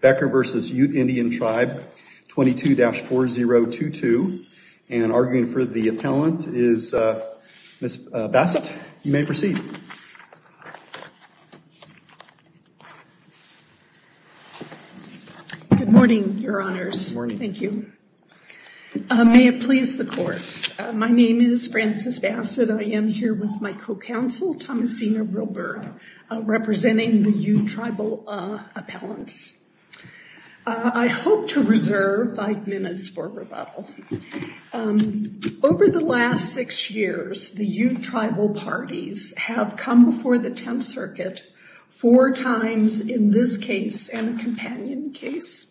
Becker v. Ute Indian Tribe 22-4022 and arguing for the appellant is Ms. Bassett. You may proceed. Good morning, your honors. Good morning. Thank you. May it please the court. My name is Frances Bassett. I am here with my co-counsel, Thomasina Realburg, representing the Ute Tribal Appellants. I hope to reserve five minutes for rebuttal. Over the last six years, the Ute Tribal Parties have come before the Tenth Circuit four times in this case and a companion case.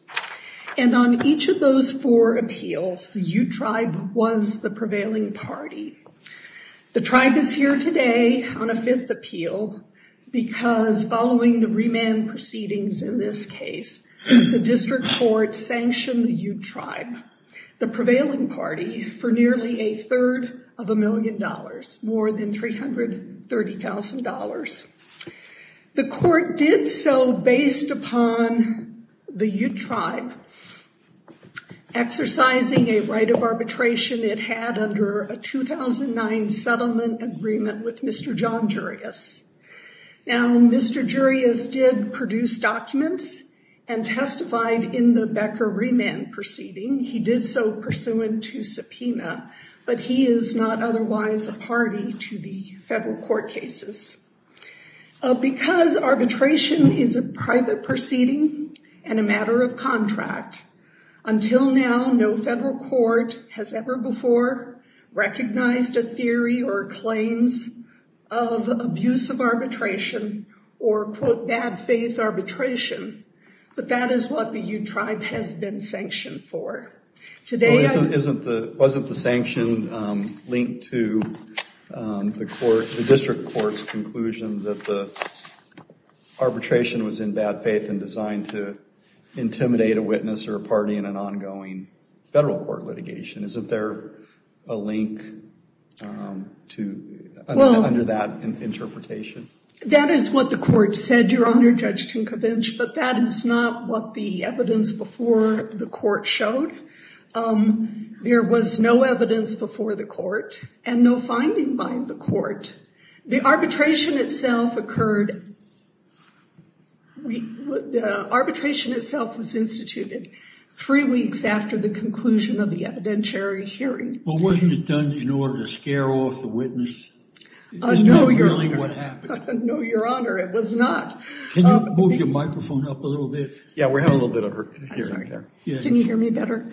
And on each of those four appeals, the Ute Tribe was the prevailing party. The tribe is here today on a fifth appeal because following the remand proceedings in this case, the district court sanctioned the Ute Tribe, the prevailing party, for nearly a third of a million dollars, more than $330,000. The court did so based upon the Ute Tribe exercising a right of arbitration it had under a 2009 settlement agreement with Mr. John Jurius. Now, Mr. Jurius did produce documents and testified in the Becker remand proceeding. He did so pursuant to subpoena, but he is not otherwise a party to the federal court cases. Because arbitration is a private proceeding and a matter of contract, until now no federal court has ever before recognized a theory or claims of abuse of arbitration or, quote, bad faith arbitration. But that is what the Ute Tribe has been sanctioned for. Wasn't the sanction linked to the court, the district court's claim that the arbitration was in bad faith and designed to intimidate a witness or a party in an ongoing federal court litigation? Isn't there a link to, under that interpretation? That is what the court said, Your Honor, Judge Tinkovich, but that is not what the evidence before the court showed. There was no evidence before the court and no finding by the court. The arbitration itself occurred, the arbitration itself was instituted three weeks after the conclusion of the evidentiary hearing. Well, wasn't it done in order to scare off the witness? I know, Your Honor, it was not. Can you move your microphone up a little bit? Yeah, we have a little bit of her hearing there. Can you hear me better?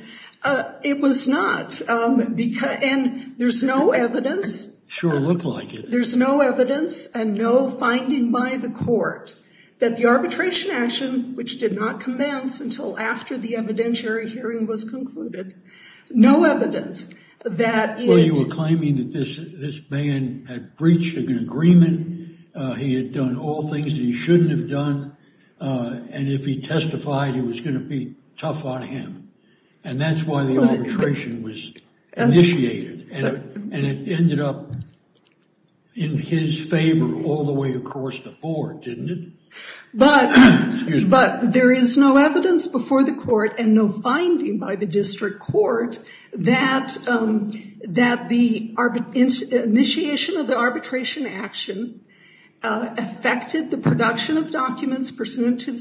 It was not, and there's no evidence. Sure looked like it. There's no evidence and no finding by the court that the arbitration action, which did not commence until after the evidentiary hearing was concluded, no evidence that it... Well, you were claiming that this man had breached an agreement, he had done all things that he shouldn't have done, and if he testified, it was going to be tough on him. And that's why the arbitration was initiated, and it ended up in his favor all the way across the board, didn't it? But there is no evidence before the court and no finding by the district court that the initiation of the arbitration action affected the production of documents pursuant to the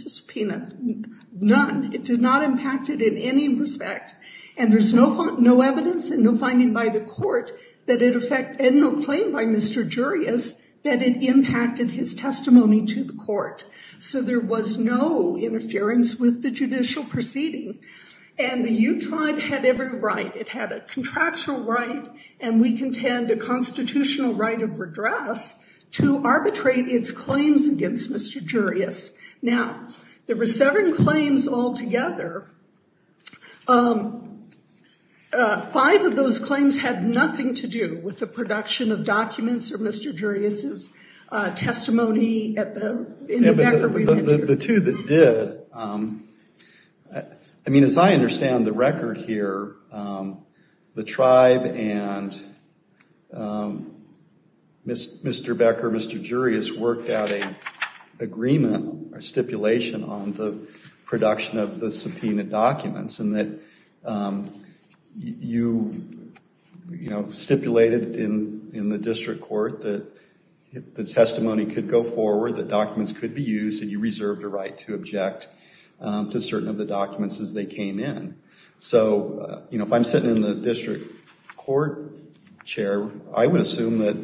And there's no evidence and no finding by the court that it affected, and no claim by Mr. Jurius, that it impacted his testimony to the court. So there was no interference with the judicial proceeding. And the U tribe had every right, it had a contractual right, and we contend a constitutional right of redress to arbitrate its claims against Mr. Jurius. Now, there were seven claims altogether. Five of those claims had nothing to do with the production of documents or Mr. Jurius's testimony in the Becker review. The two that did, I mean, as I understand the record here, the tribe and Mr. Becker, Mr. Jurius worked out an agreement or stipulation on the production of the subpoena documents and that you, you know, stipulated in the district court that the testimony could go forward, that documents could be used, and you reserved a right to object to certain of the documents as they came in. So, you know, if I'm sitting in the district court chair, I would assume that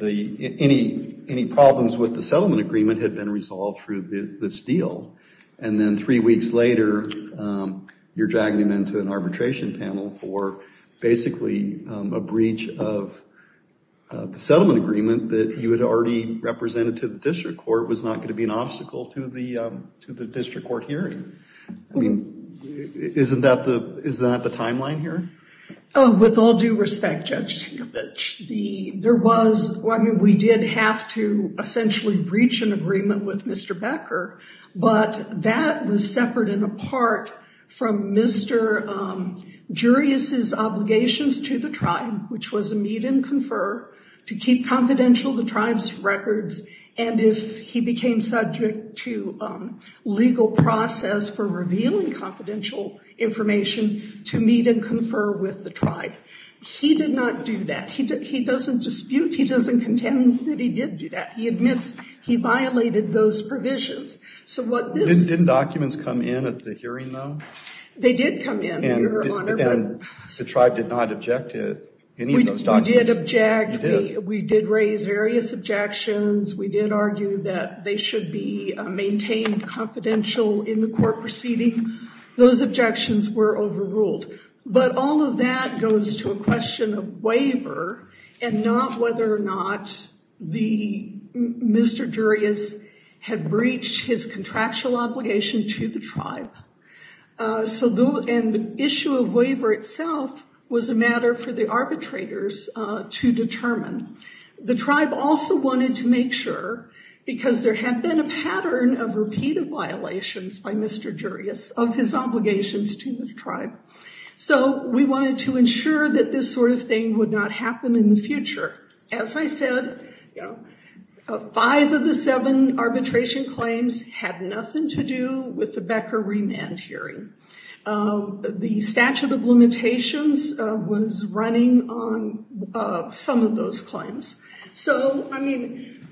any problems with the settlement agreement had been resolved through this deal. And then three weeks later, you're dragging them into an arbitration panel for basically a breach of the settlement agreement that you had already represented to the district court was not going to be an obstacle to the, to the district court hearing. I mean, isn't that the, is that the timeline here? Oh, with all due respect, Judge Tinkovich, the, there was, I mean, we did have to essentially breach an agreement with Mr. Becker, but that was separate and apart from Mr. Jurius's obligations to the tribe, which was a meet and confer to keep confidential the tribe's records. And if he became subject to legal process for that, he doesn't dispute, he doesn't contend that he did do that. He admits he violated those provisions. So what this... Didn't documents come in at the hearing though? They did come in, and the tribe did not object to any of those documents. We did object. We did raise various objections. We did argue that they should be maintained confidential in the court proceeding. Those objections were overruled. But all of that goes to a question of waiver and not whether or not the, Mr. Jurius had breached his contractual obligation to the tribe. So the issue of waiver itself was a matter for the arbitrators to determine. The tribe also wanted to make sure because there had been a pattern of repeated violations by Mr. Jurius of his obligations to the tribe. So we wanted to ensure that this sort of thing would not happen in the future. As I said, five of the seven arbitration claims had nothing to do with the Becker remand hearing. The statute of limitations was running on some of those claims. So, I mean,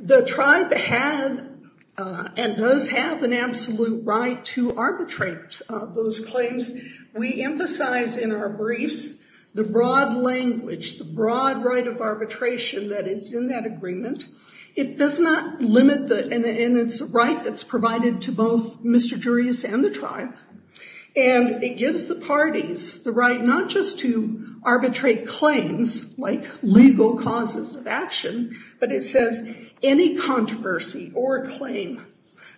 the tribe had and does have an absolute right to arbitrate those claims. We emphasize in our briefs the broad language, the broad right of arbitration that is in that agreement. It does not limit and it's a right that's provided to both Mr. Jurius and the tribe. And it gives the parties the right not just to arbitrate claims like legal causes of action, but it says any controversy or claim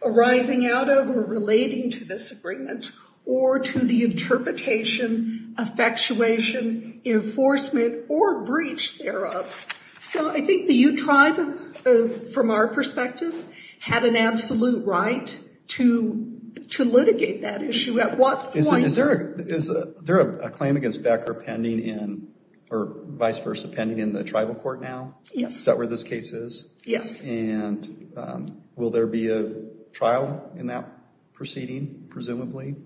arising out of or relating to this agreement or to the from our perspective had an absolute right to litigate that issue at what point. Is there a claim against Becker pending in or vice versa pending in the tribal court now? Yes. Is that where this case is? Yes. And will there be a trial in that proceeding presumably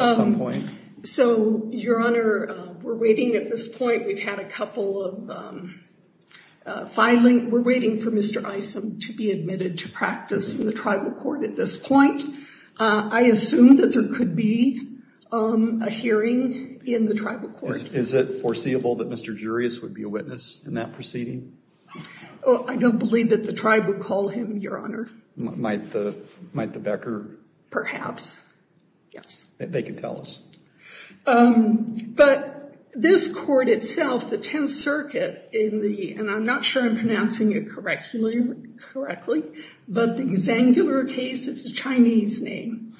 at some point? So, Your Honor, we're waiting at this point. We've had a couple of filing. We're waiting for Mr. Isom to be admitted to practice in the tribal court at this point. I assume that there could be a hearing in the tribal court. Is it foreseeable that Mr. Jurius would be a witness in that proceeding? Oh, I don't believe that the tribe would call him, Your Honor. Might the Becker? Perhaps. Yes. They could tell us. But this court itself, the Tenth Circuit in the, and I'm not sure I'm pronouncing it correctly, but the Xangular case, it's a Chinese name,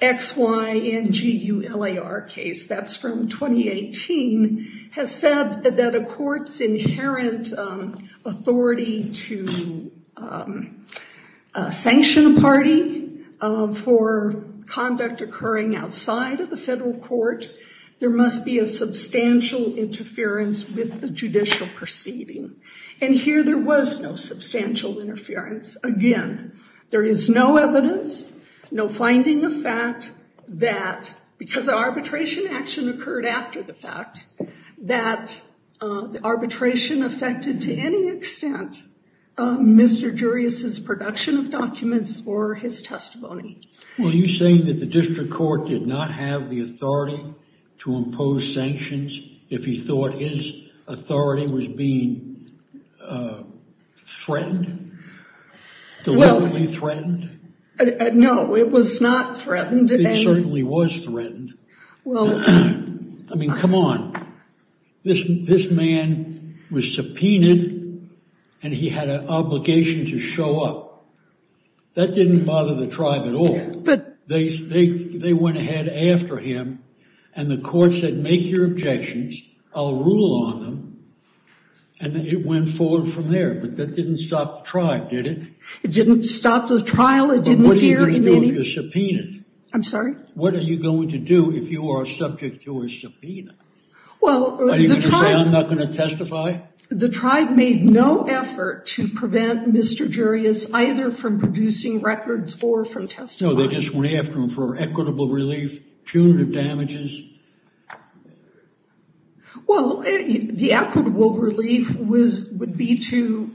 X-Y-N-G-U-L-A-R case, that's from 2018, has said that a court's inherent authority to sanction a party for conduct occurring outside of the federal court, there must be a substantial interference with the judicial proceeding. And here there was no substantial interference. Again, there is no evidence, no finding of fact that, because the arbitration action occurred after the fact, that the arbitration affected to any extent Mr. Jurius's production of documents or his testimony. Were you saying that the district court did not have the authority to impose sanctions if he thought his authority was being threatened, deliberately threatened? No, it was not threatened. It certainly was threatened. I mean, come on. This man was subpoenaed and he had an obligation to show up. That didn't bother the tribe at all. They went ahead after him and the court said, make your objections. I'll rule on them. And it went forward from there, but that didn't stop the tribe, did it? It didn't stop the trial. But what are you going to do if you're subpoenaed? I'm sorry? What are you going to do if you are subject to a subpoena? Are you going to say I'm not going to testify? The tribe made no effort to prevent Mr. Jurius either from producing records or from testifying. No, they just went after him for equitable relief, punitive damages. Equitable relief? Well, the equitable relief would be to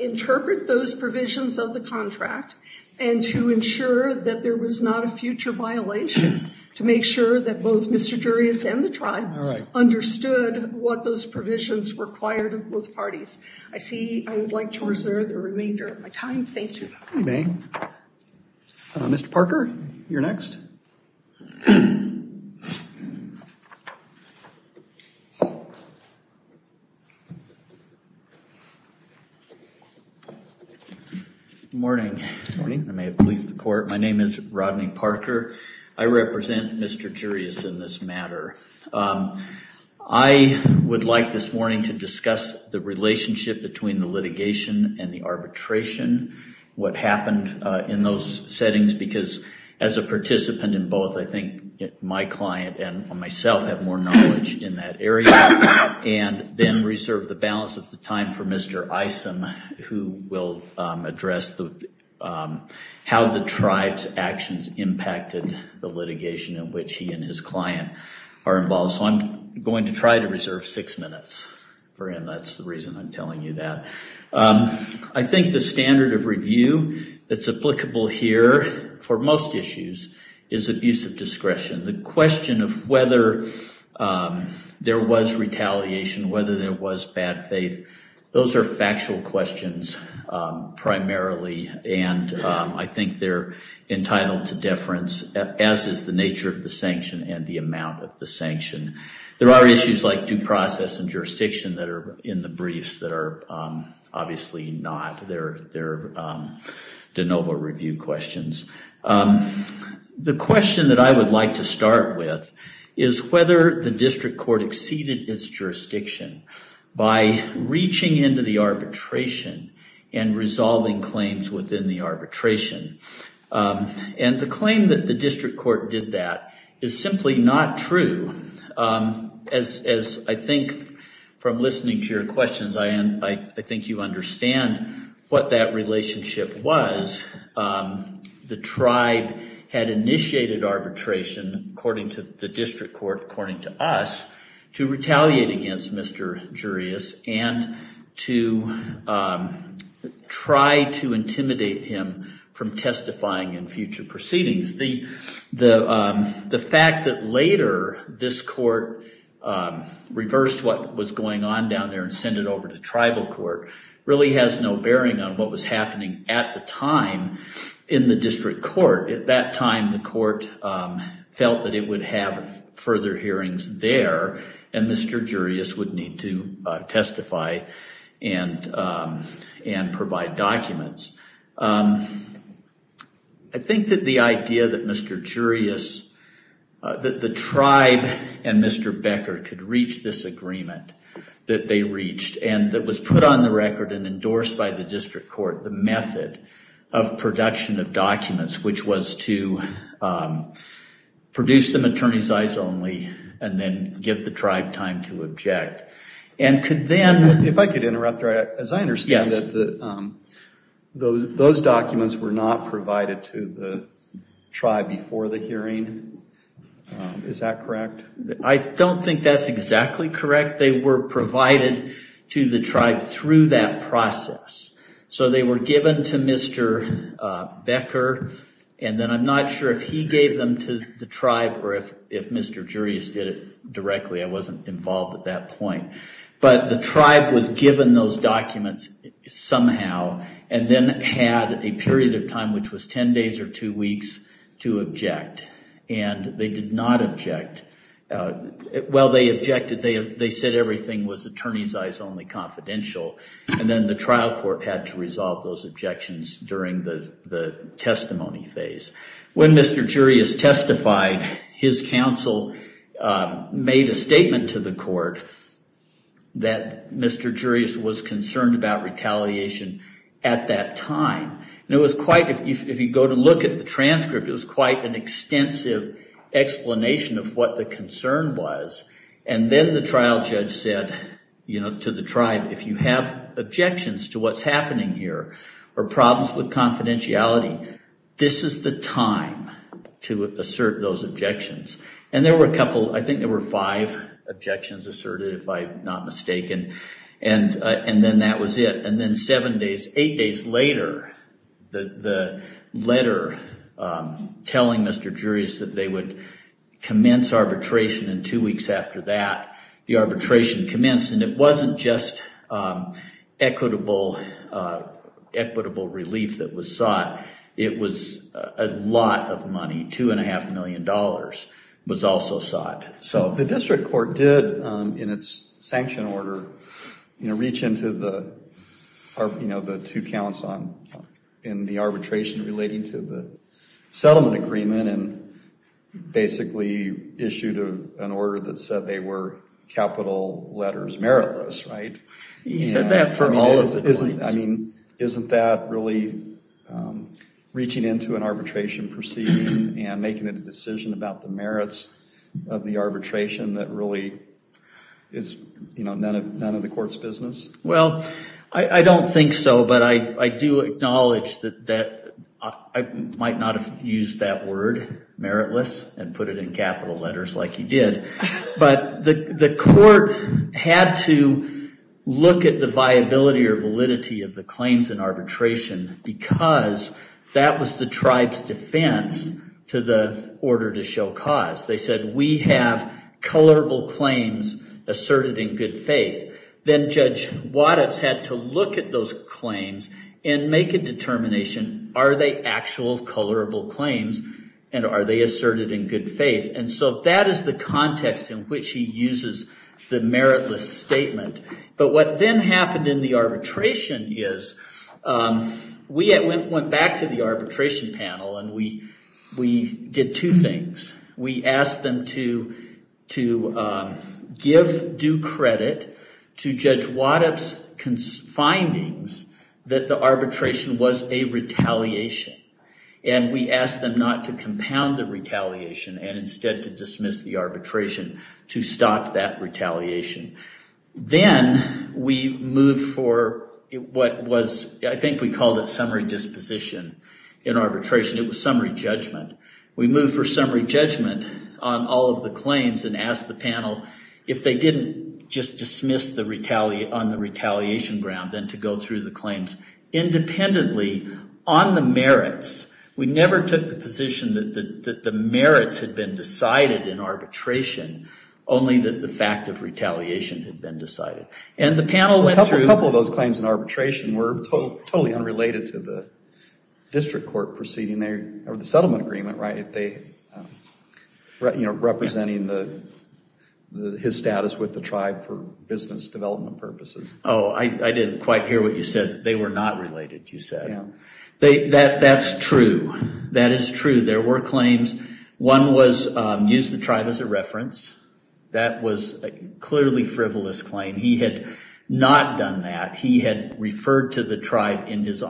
interpret those provisions of the contract and to ensure that there was not a future violation, to make sure that both Mr. Jurius and the tribe understood what those provisions required of both parties. I see I would like to reserve the remainder of my time. Thank you. You may. Mr. Parker, you're next. Good morning. Good morning. I may have policed the court. My name is Rodney Parker. I represent Mr. Jurius in this matter. I would like this morning to discuss the relationship between the litigation and the arbitration, what happened in those settings, because as a participant in both, I think my client and myself have more knowledge in that area, and then reserve the balance of the time for Mr. Isom, who will address how the tribe's actions impacted the litigation in which he and his client are involved. So I'm going to try to reserve six minutes for him. That's the reason I'm telling you that. I think the standard of review that's applicable here for most issues is abuse of discretion. The question of whether there was retaliation, whether there was bad faith, those are factual questions primarily, and I think they're entitled to deference, as is the nature of the sanction and the amount of the sanction. There are issues like due process and jurisdiction that are in the briefs that are obviously not. They're de novo review questions. The question that I would like to start with is whether the district court exceeded its jurisdiction by reaching into the arbitration and resolving claims within the arbitration, and the claim that the district court did that is simply not true, as I think from listening to your questions, I think you understand what that relationship was. The tribe had initiated arbitration, according to the district court, according to us, to retaliate against Mr. Jurius and to try to intimidate him from testifying in future proceedings. The fact that later this court reversed what was going on down there and sent it over to tribal court really has no bearing on what was happening at the time in the district court. At that time, the court felt that it would have further hearings there, and Mr. Jurius would need to testify and provide documents. I think that the idea that Mr. Jurius, that the tribe and Mr. Becker could reach this agreement that they reached, and that was put on the record and endorsed by the district court, the method of production of documents, which was to produce them attorney's eyes only, and then give the tribe time to object, and could then- Those documents were not provided to the tribe before the hearing, is that correct? I don't think that's exactly correct. They were provided to the tribe through that process. So they were given to Mr. Becker, and then I'm not sure if he gave them to the tribe or if Mr. Jurius did it directly. I wasn't involved at that point. But the tribe was given those documents somehow, and then had a period of time, which was 10 days or two weeks, to object. They did not object. Well, they objected. They said everything was attorney's eyes only confidential, and then the trial court had to resolve those objections during the testimony phase. When Mr. Jurius testified, his counsel made a statement to the court that Mr. Jurius was concerned about retaliation at that time. And it was quite, if you go to look at the transcript, it was quite an extensive explanation of what the concern was. And then the trial judge said to the tribe, if you have objections to what's happening here, or problems with confidentiality, this is the time to assert those objections. And there were a couple, I think there were five objections asserted, if I'm not mistaken. And then that was it. And then seven days, eight days later, the letter telling Mr. Jurius that they would commence arbitration, and two weeks after that, the arbitration commenced. And it was a lot of money, $2.5 million was also sought. The district court did, in its sanction order, reach into the two counts in the arbitration relating to the settlement agreement, and basically issued an order that said they were capital letters meritless, right? He said that for all of the claims. I mean, isn't that really reaching into an arbitration proceeding and making a decision about the merits of the arbitration that really is, you know, none of the court's business? Well, I don't think so, but I do acknowledge that I might not have used that word, meritless, and put it in capital letters like he did. But the court had to look at the viability or validity of the claims in arbitration, because that was the tribe's defense to the order to show cause. They said, we have colorable claims asserted in good faith. Then Judge Waddups had to look at those claims and make a determination, are they actual colorable claims, and are they asserted in good faith? And so that is the context in which he uses the meritless statement. But what then happened in the arbitration is, we went back to the arbitration panel and we did two things. We asked them to give due credit to Judge Waddups' findings that the arbitration was a retaliation, and we asked them not to compound the retaliation and instead to dismiss the arbitration to stop that retaliation. Then we moved for what was, I think we called it summary disposition in arbitration. It was summary judgment. We moved for summary judgment on all of the claims and asked the panel if they didn't just dismiss on the retaliation ground, then to go through the claims independently on the merits. We never took the position that the merits had been decided in arbitration, only that the fact of retaliation had been decided. And the panel went through- A couple of those claims in arbitration were totally unrelated to the district court proceeding or the settlement agreement, right? Representing his status with the tribe for business development purposes. Oh, I didn't quite hear what you said. They were not related, you said. That's true. That is true. There were claims. One was used the tribe as a reference. That was a clearly frivolous claim. He had not done that. He had referred to the tribe in his for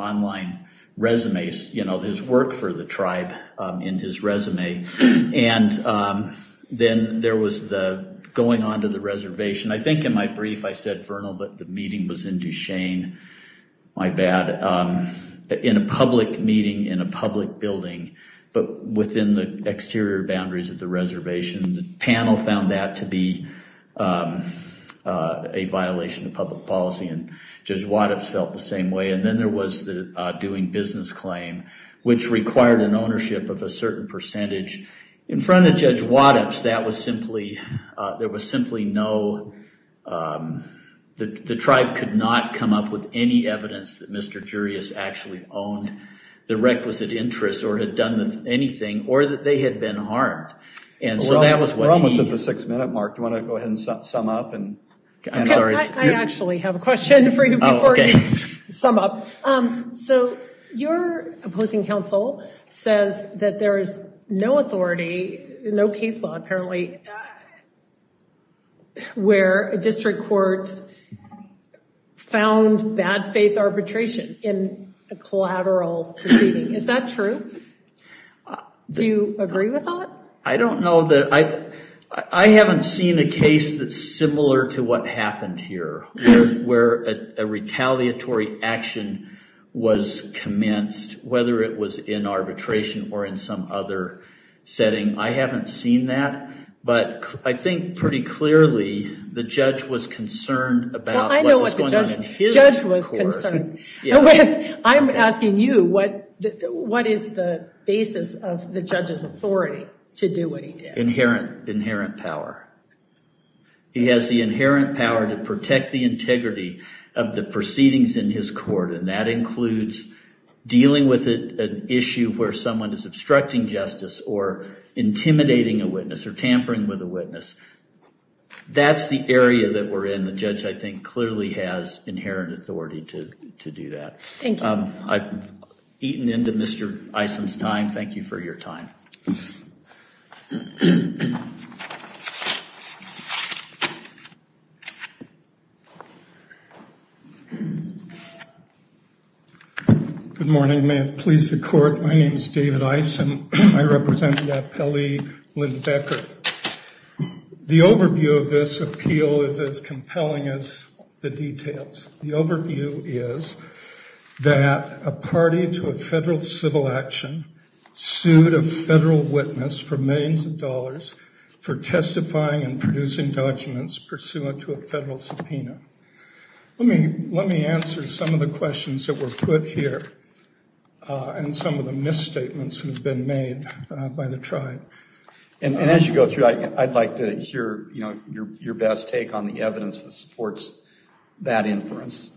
the tribe in his resume. And then there was the going on to the reservation. I think in my brief I said Vernal, but the meeting was in Duchesne. My bad. In a public meeting in a public building, but within the exterior boundaries of the reservation. The panel found that to be a violation of public policy and Judge Waddups felt the same way. And then there was the doing business claim, which required an ownership of a certain percentage. In front of Judge Waddups, that was simply, there was simply no, the tribe could not come up with any evidence that Mr. Jurius actually owned the requisite interests or had done anything or that they had been harmed. And so that was what he- We're almost at the six minute mark. Do you want to go ahead and sum up? I'm sorry. I actually have a question for you before you sum up. So your opposing counsel says that there is no authority, no case law apparently, where a district court found bad faith arbitration in a collateral proceeding. Is that true? Do you agree with that? I don't know that I, I haven't seen a case that's similar to what happened here, where a retaliatory action was commenced, whether it was in arbitration or in some other setting. I haven't seen that, but I think pretty clearly the judge was concerned about- Well, I know what the judge was concerned with. I'm asking you, what is the basis of the judge's authority to do what he did? Inherent power. He has the inherent power to protect the integrity of the proceedings in his court, and that includes dealing with an issue where someone is obstructing justice or intimidating a witness or tampering with a witness. That's the area that we're in. The judge, I think, clearly has inherent authority to do that. Thank you. I've eaten into Mr. Isom's time. Thank you for your time. Good morning. May it please the court. My name is David Isom. I represent the appellee Lynn Becker. The overview of this appeal is as compelling as the details. The overview is that a party to a for testifying and producing documents pursuant to a federal subpoena. Let me answer some of the questions that were put here, and some of the misstatements that have been made by the tribe. And as you go through, I'd like to hear your best take on the evidence that supports that inference.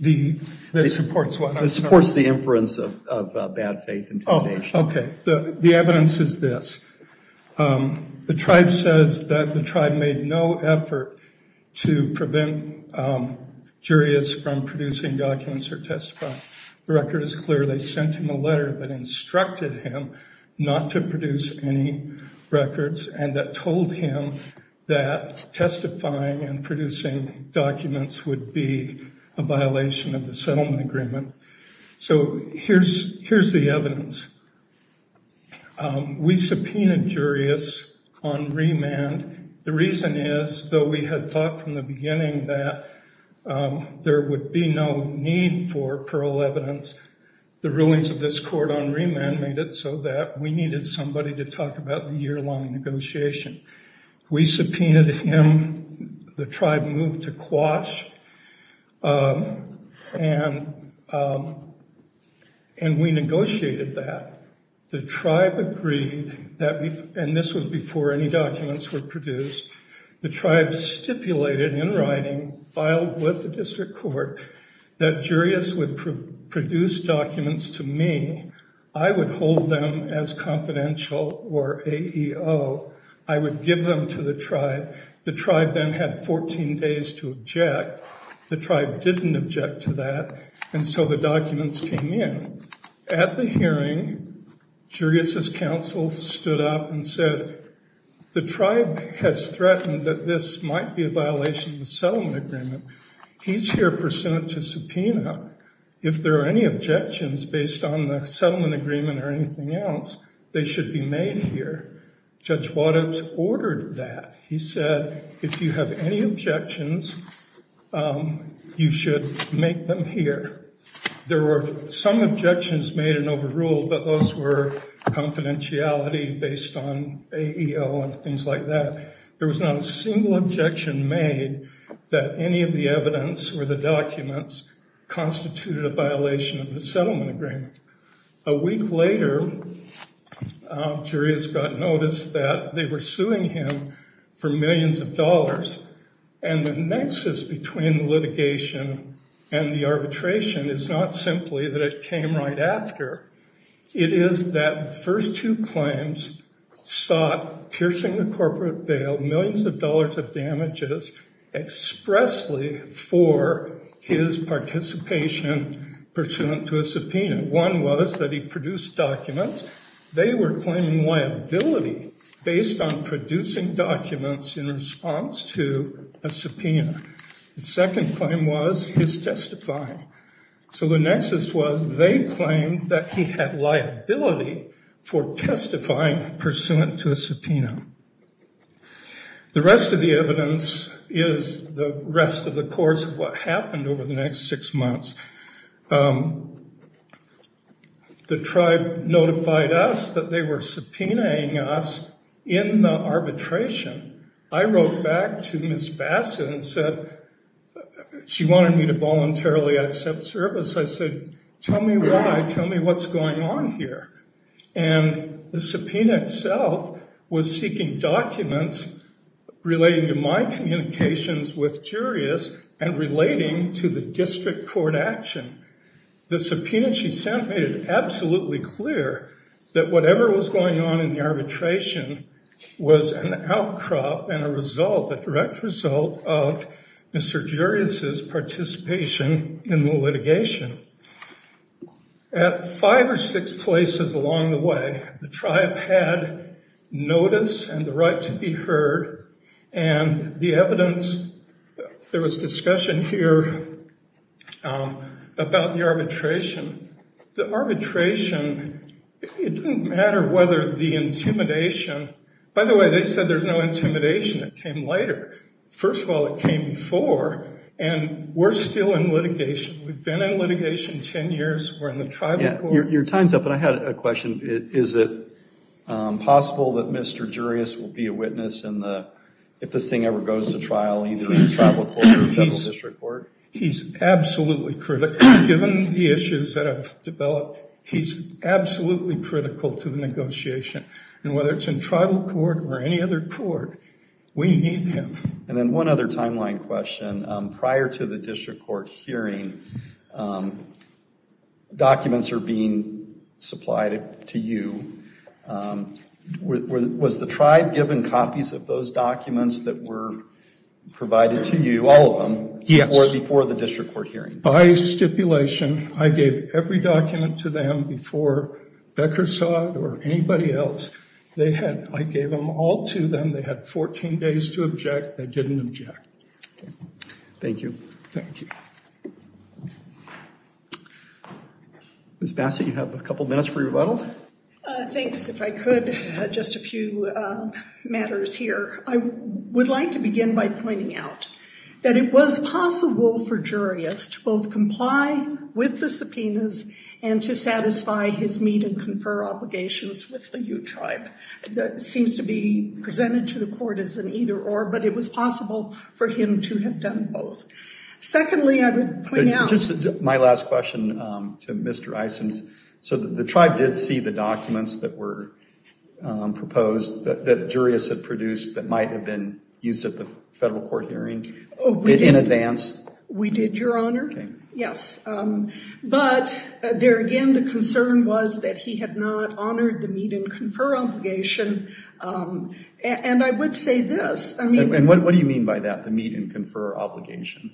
The- That supports what? That supports the inference of bad faith intimidation. Okay. The evidence is this. The tribe says that the tribe made no effort to prevent jurists from producing documents or testifying. The record is clear. They sent him a letter that instructed him not to produce any records, and that told him that testifying and producing documents would be a violation of the settlement agreement. So here's the evidence. We subpoenaed jurists on remand. The reason is, though we had thought from the beginning that there would be no need for parole evidence, the rulings of this court on remand made it so that we needed somebody to talk about the year-long negotiation. We subpoenaed him. The tribe moved to quash, and we negotiated that. The tribe agreed that, and this was before any documents were produced, the tribe stipulated in writing, filed with the district court, that jurists would produce documents to me. I would hold them as confidential or AEO. I would give them to the tribe to object. The tribe didn't object to that, and so the documents came in. At the hearing, jurists' counsel stood up and said, the tribe has threatened that this might be a violation of the settlement agreement. He's here pursuant to subpoena. If there are any objections based on the settlement agreement or anything else, they should be made here. Judge Waddups ordered that. He said, if you have any objections, you should make them here. There were some objections made and overruled, but those were confidentiality based on AEO and things like that. There was not a single objection made that any of the evidence or the documents constituted a violation of the settlement agreement. A week later, jurists got notice that they were suing him for millions of dollars, and the nexus between litigation and the arbitration is not simply that it came right after. It is that the first two claims sought, piercing the corporate veil, millions of dollars of damages expressly for his participation pursuant to a subpoena. One was that he produced documents. They were claiming liability based on producing documents in response to a subpoena. The second claim was his testifying. So the nexus was they claimed that he had liability for testifying pursuant to a subpoena. The rest of the evidence is the rest of the course of what happened over the next six months. The tribe notified us that they were subpoenaing us in the arbitration. I wrote back to Ms. Bassett and said she wanted me to voluntarily accept service. I said, tell me why. Tell me what's going on here. And the subpoena itself was seeking documents relating to my communications with jurists and relating to the district court action. The subpoena she sent made it absolutely clear that whatever was going on in the arbitration was an outcrop and a result, a direct result, of Mr. Jurius' participation in the litigation. At five or six places along the way, the tribe had notice and the right to be heard. And the evidence, there was discussion here about the arbitration. The arbitration, it didn't matter whether the intimidation, by the way, they said there's no intimidation. It came later. First of all, it came before. And we're still in litigation. We've been in litigation 10 years. We're in the tribal court. Your time's up. And I had a question. Is it possible that Mr. Jurius will be a witness in the, if this thing ever goes to trial, either in the tribal court or federal district court? He's absolutely critical. Given the issues that have developed, he's absolutely critical to the court or any other court. We need him. And then one other timeline question. Prior to the district court hearing, documents are being supplied to you. Was the tribe given copies of those documents that were provided to you, all of them, before the district court hearing? By stipulation, I gave every document to them before Beckersaw or anybody else. I gave them all to them. They had 14 days to object. They didn't object. Okay. Thank you. Thank you. Ms. Bassett, you have a couple minutes for your rebuttal. Thanks. If I could, just a few matters here. I would like to begin by pointing out that it was possible for Jurius to both comply with the subpoenas and to satisfy his meet and confer obligations with the U-Tribe. That seems to be presented to the court as an either-or, but it was possible for him to have done both. Secondly, I would point out- Just my last question to Mr. Isons. So the tribe did see the documents that were in advance? We did, Your Honor. Yes. But there again, the concern was that he had not honored the meet and confer obligation. And I would say this, I mean- And what do you mean by that, the meet and confer obligation?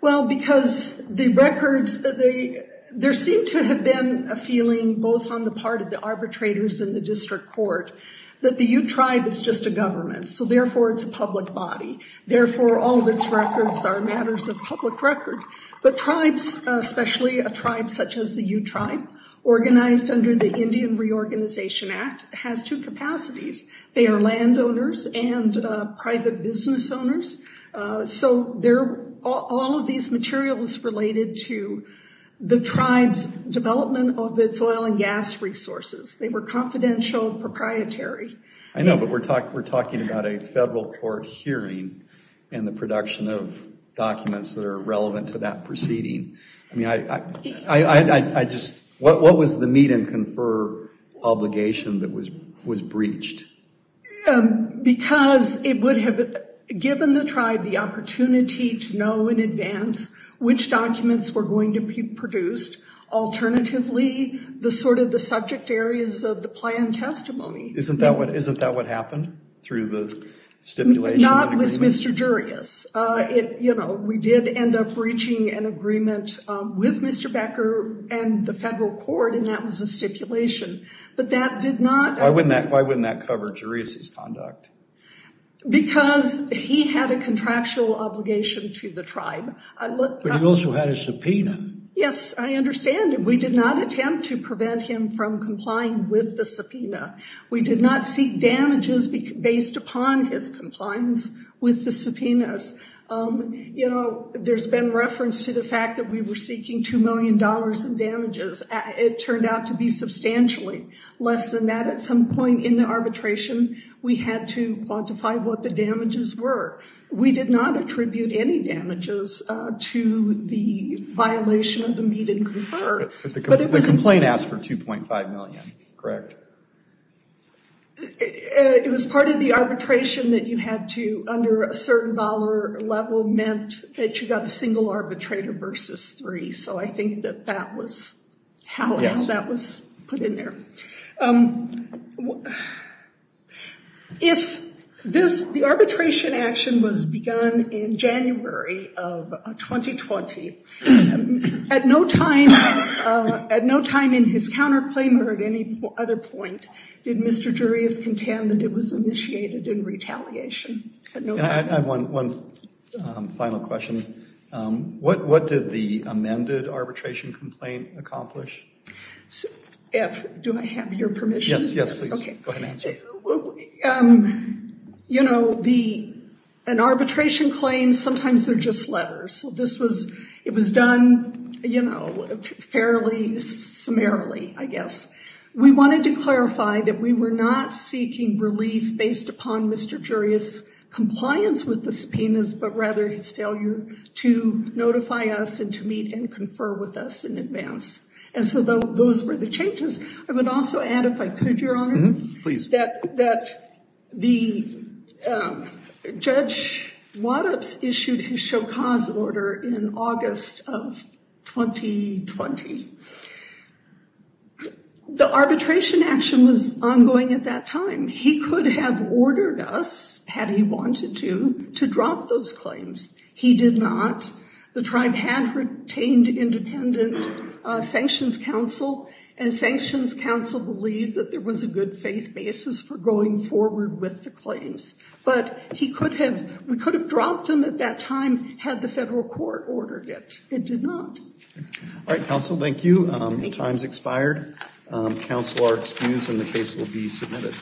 Well, because the records, there seemed to have been a feeling, both on the part of the arbitrators and the district court, that the U-Tribe is just a public body. Therefore, all of its records are matters of public record. But tribes, especially a tribe such as the U-Tribe, organized under the Indian Reorganization Act, has two capacities. They are landowners and private business owners. So all of these materials related to the tribe's development of its oil and gas resources. They were confidential and proprietary. I know, but we're talking about a federal court hearing and the production of documents that are relevant to that proceeding. I mean, what was the meet and confer obligation that was breached? Because it would have given the tribe the opportunity to know in advance which documents were going to be produced. Alternatively, the sort of the subject areas of the plan testimony. Isn't that what happened through the stipulation? Not with Mr. Darius. We did end up breaching an agreement with Mr. Becker and the federal court, and that was a stipulation. But that did not- Why wouldn't that cover Darius' conduct? Because he had a contractual obligation to the tribe. I looked- But he also had a subpoena. Yes, I understand. We did not attempt to prevent him from complying with the subpoena. We did not seek damages based upon his compliance with the subpoenas. You know, there's been reference to the fact that we were seeking $2 million in damages. It turned out to be substantially less than that. At some point in the arbitration, we had to quantify what the damages were. We did not attribute any damages to the violation of the meet and confer. But the complaint asked for $2.5 million, correct? It was part of the arbitration that you had to, under a certain dollar level, meant that you got a single arbitrator versus three. So I think that that was how that was put in there. If this, the arbitration action was begun in January of 2020, at no time in his counterclaim or at any other point did Mr. Jurius contend that it was initiated in retaliation? I have one final question. What did the amended arbitration complaint accomplish? Do I have your permission? Yes, yes, please. Go ahead and answer. You know, an arbitration claim, sometimes they're just letters. So this was, it was done, you know, fairly summarily, I guess. We wanted to clarify that we were not seeking relief based upon Mr. Jurius' compliance with the subpoenas, but rather his failure to notify us and to meet and confer with us in advance. And so those were the changes. I would also add, if I could, that the Judge Waddups issued his chaucas order in August of 2020. The arbitration action was ongoing at that time. He could have ordered us, had he wanted to, to drop those claims. He did not. The tribe had retained independent sanctions counsel, and sanctions counsel believed that there was a good faith basis for going forward with the claims. But he could have, we could have dropped them at that time, had the federal court ordered it. It did not. All right, counsel, thank you. The time's expired. Counsel are excused and the case will be submitted.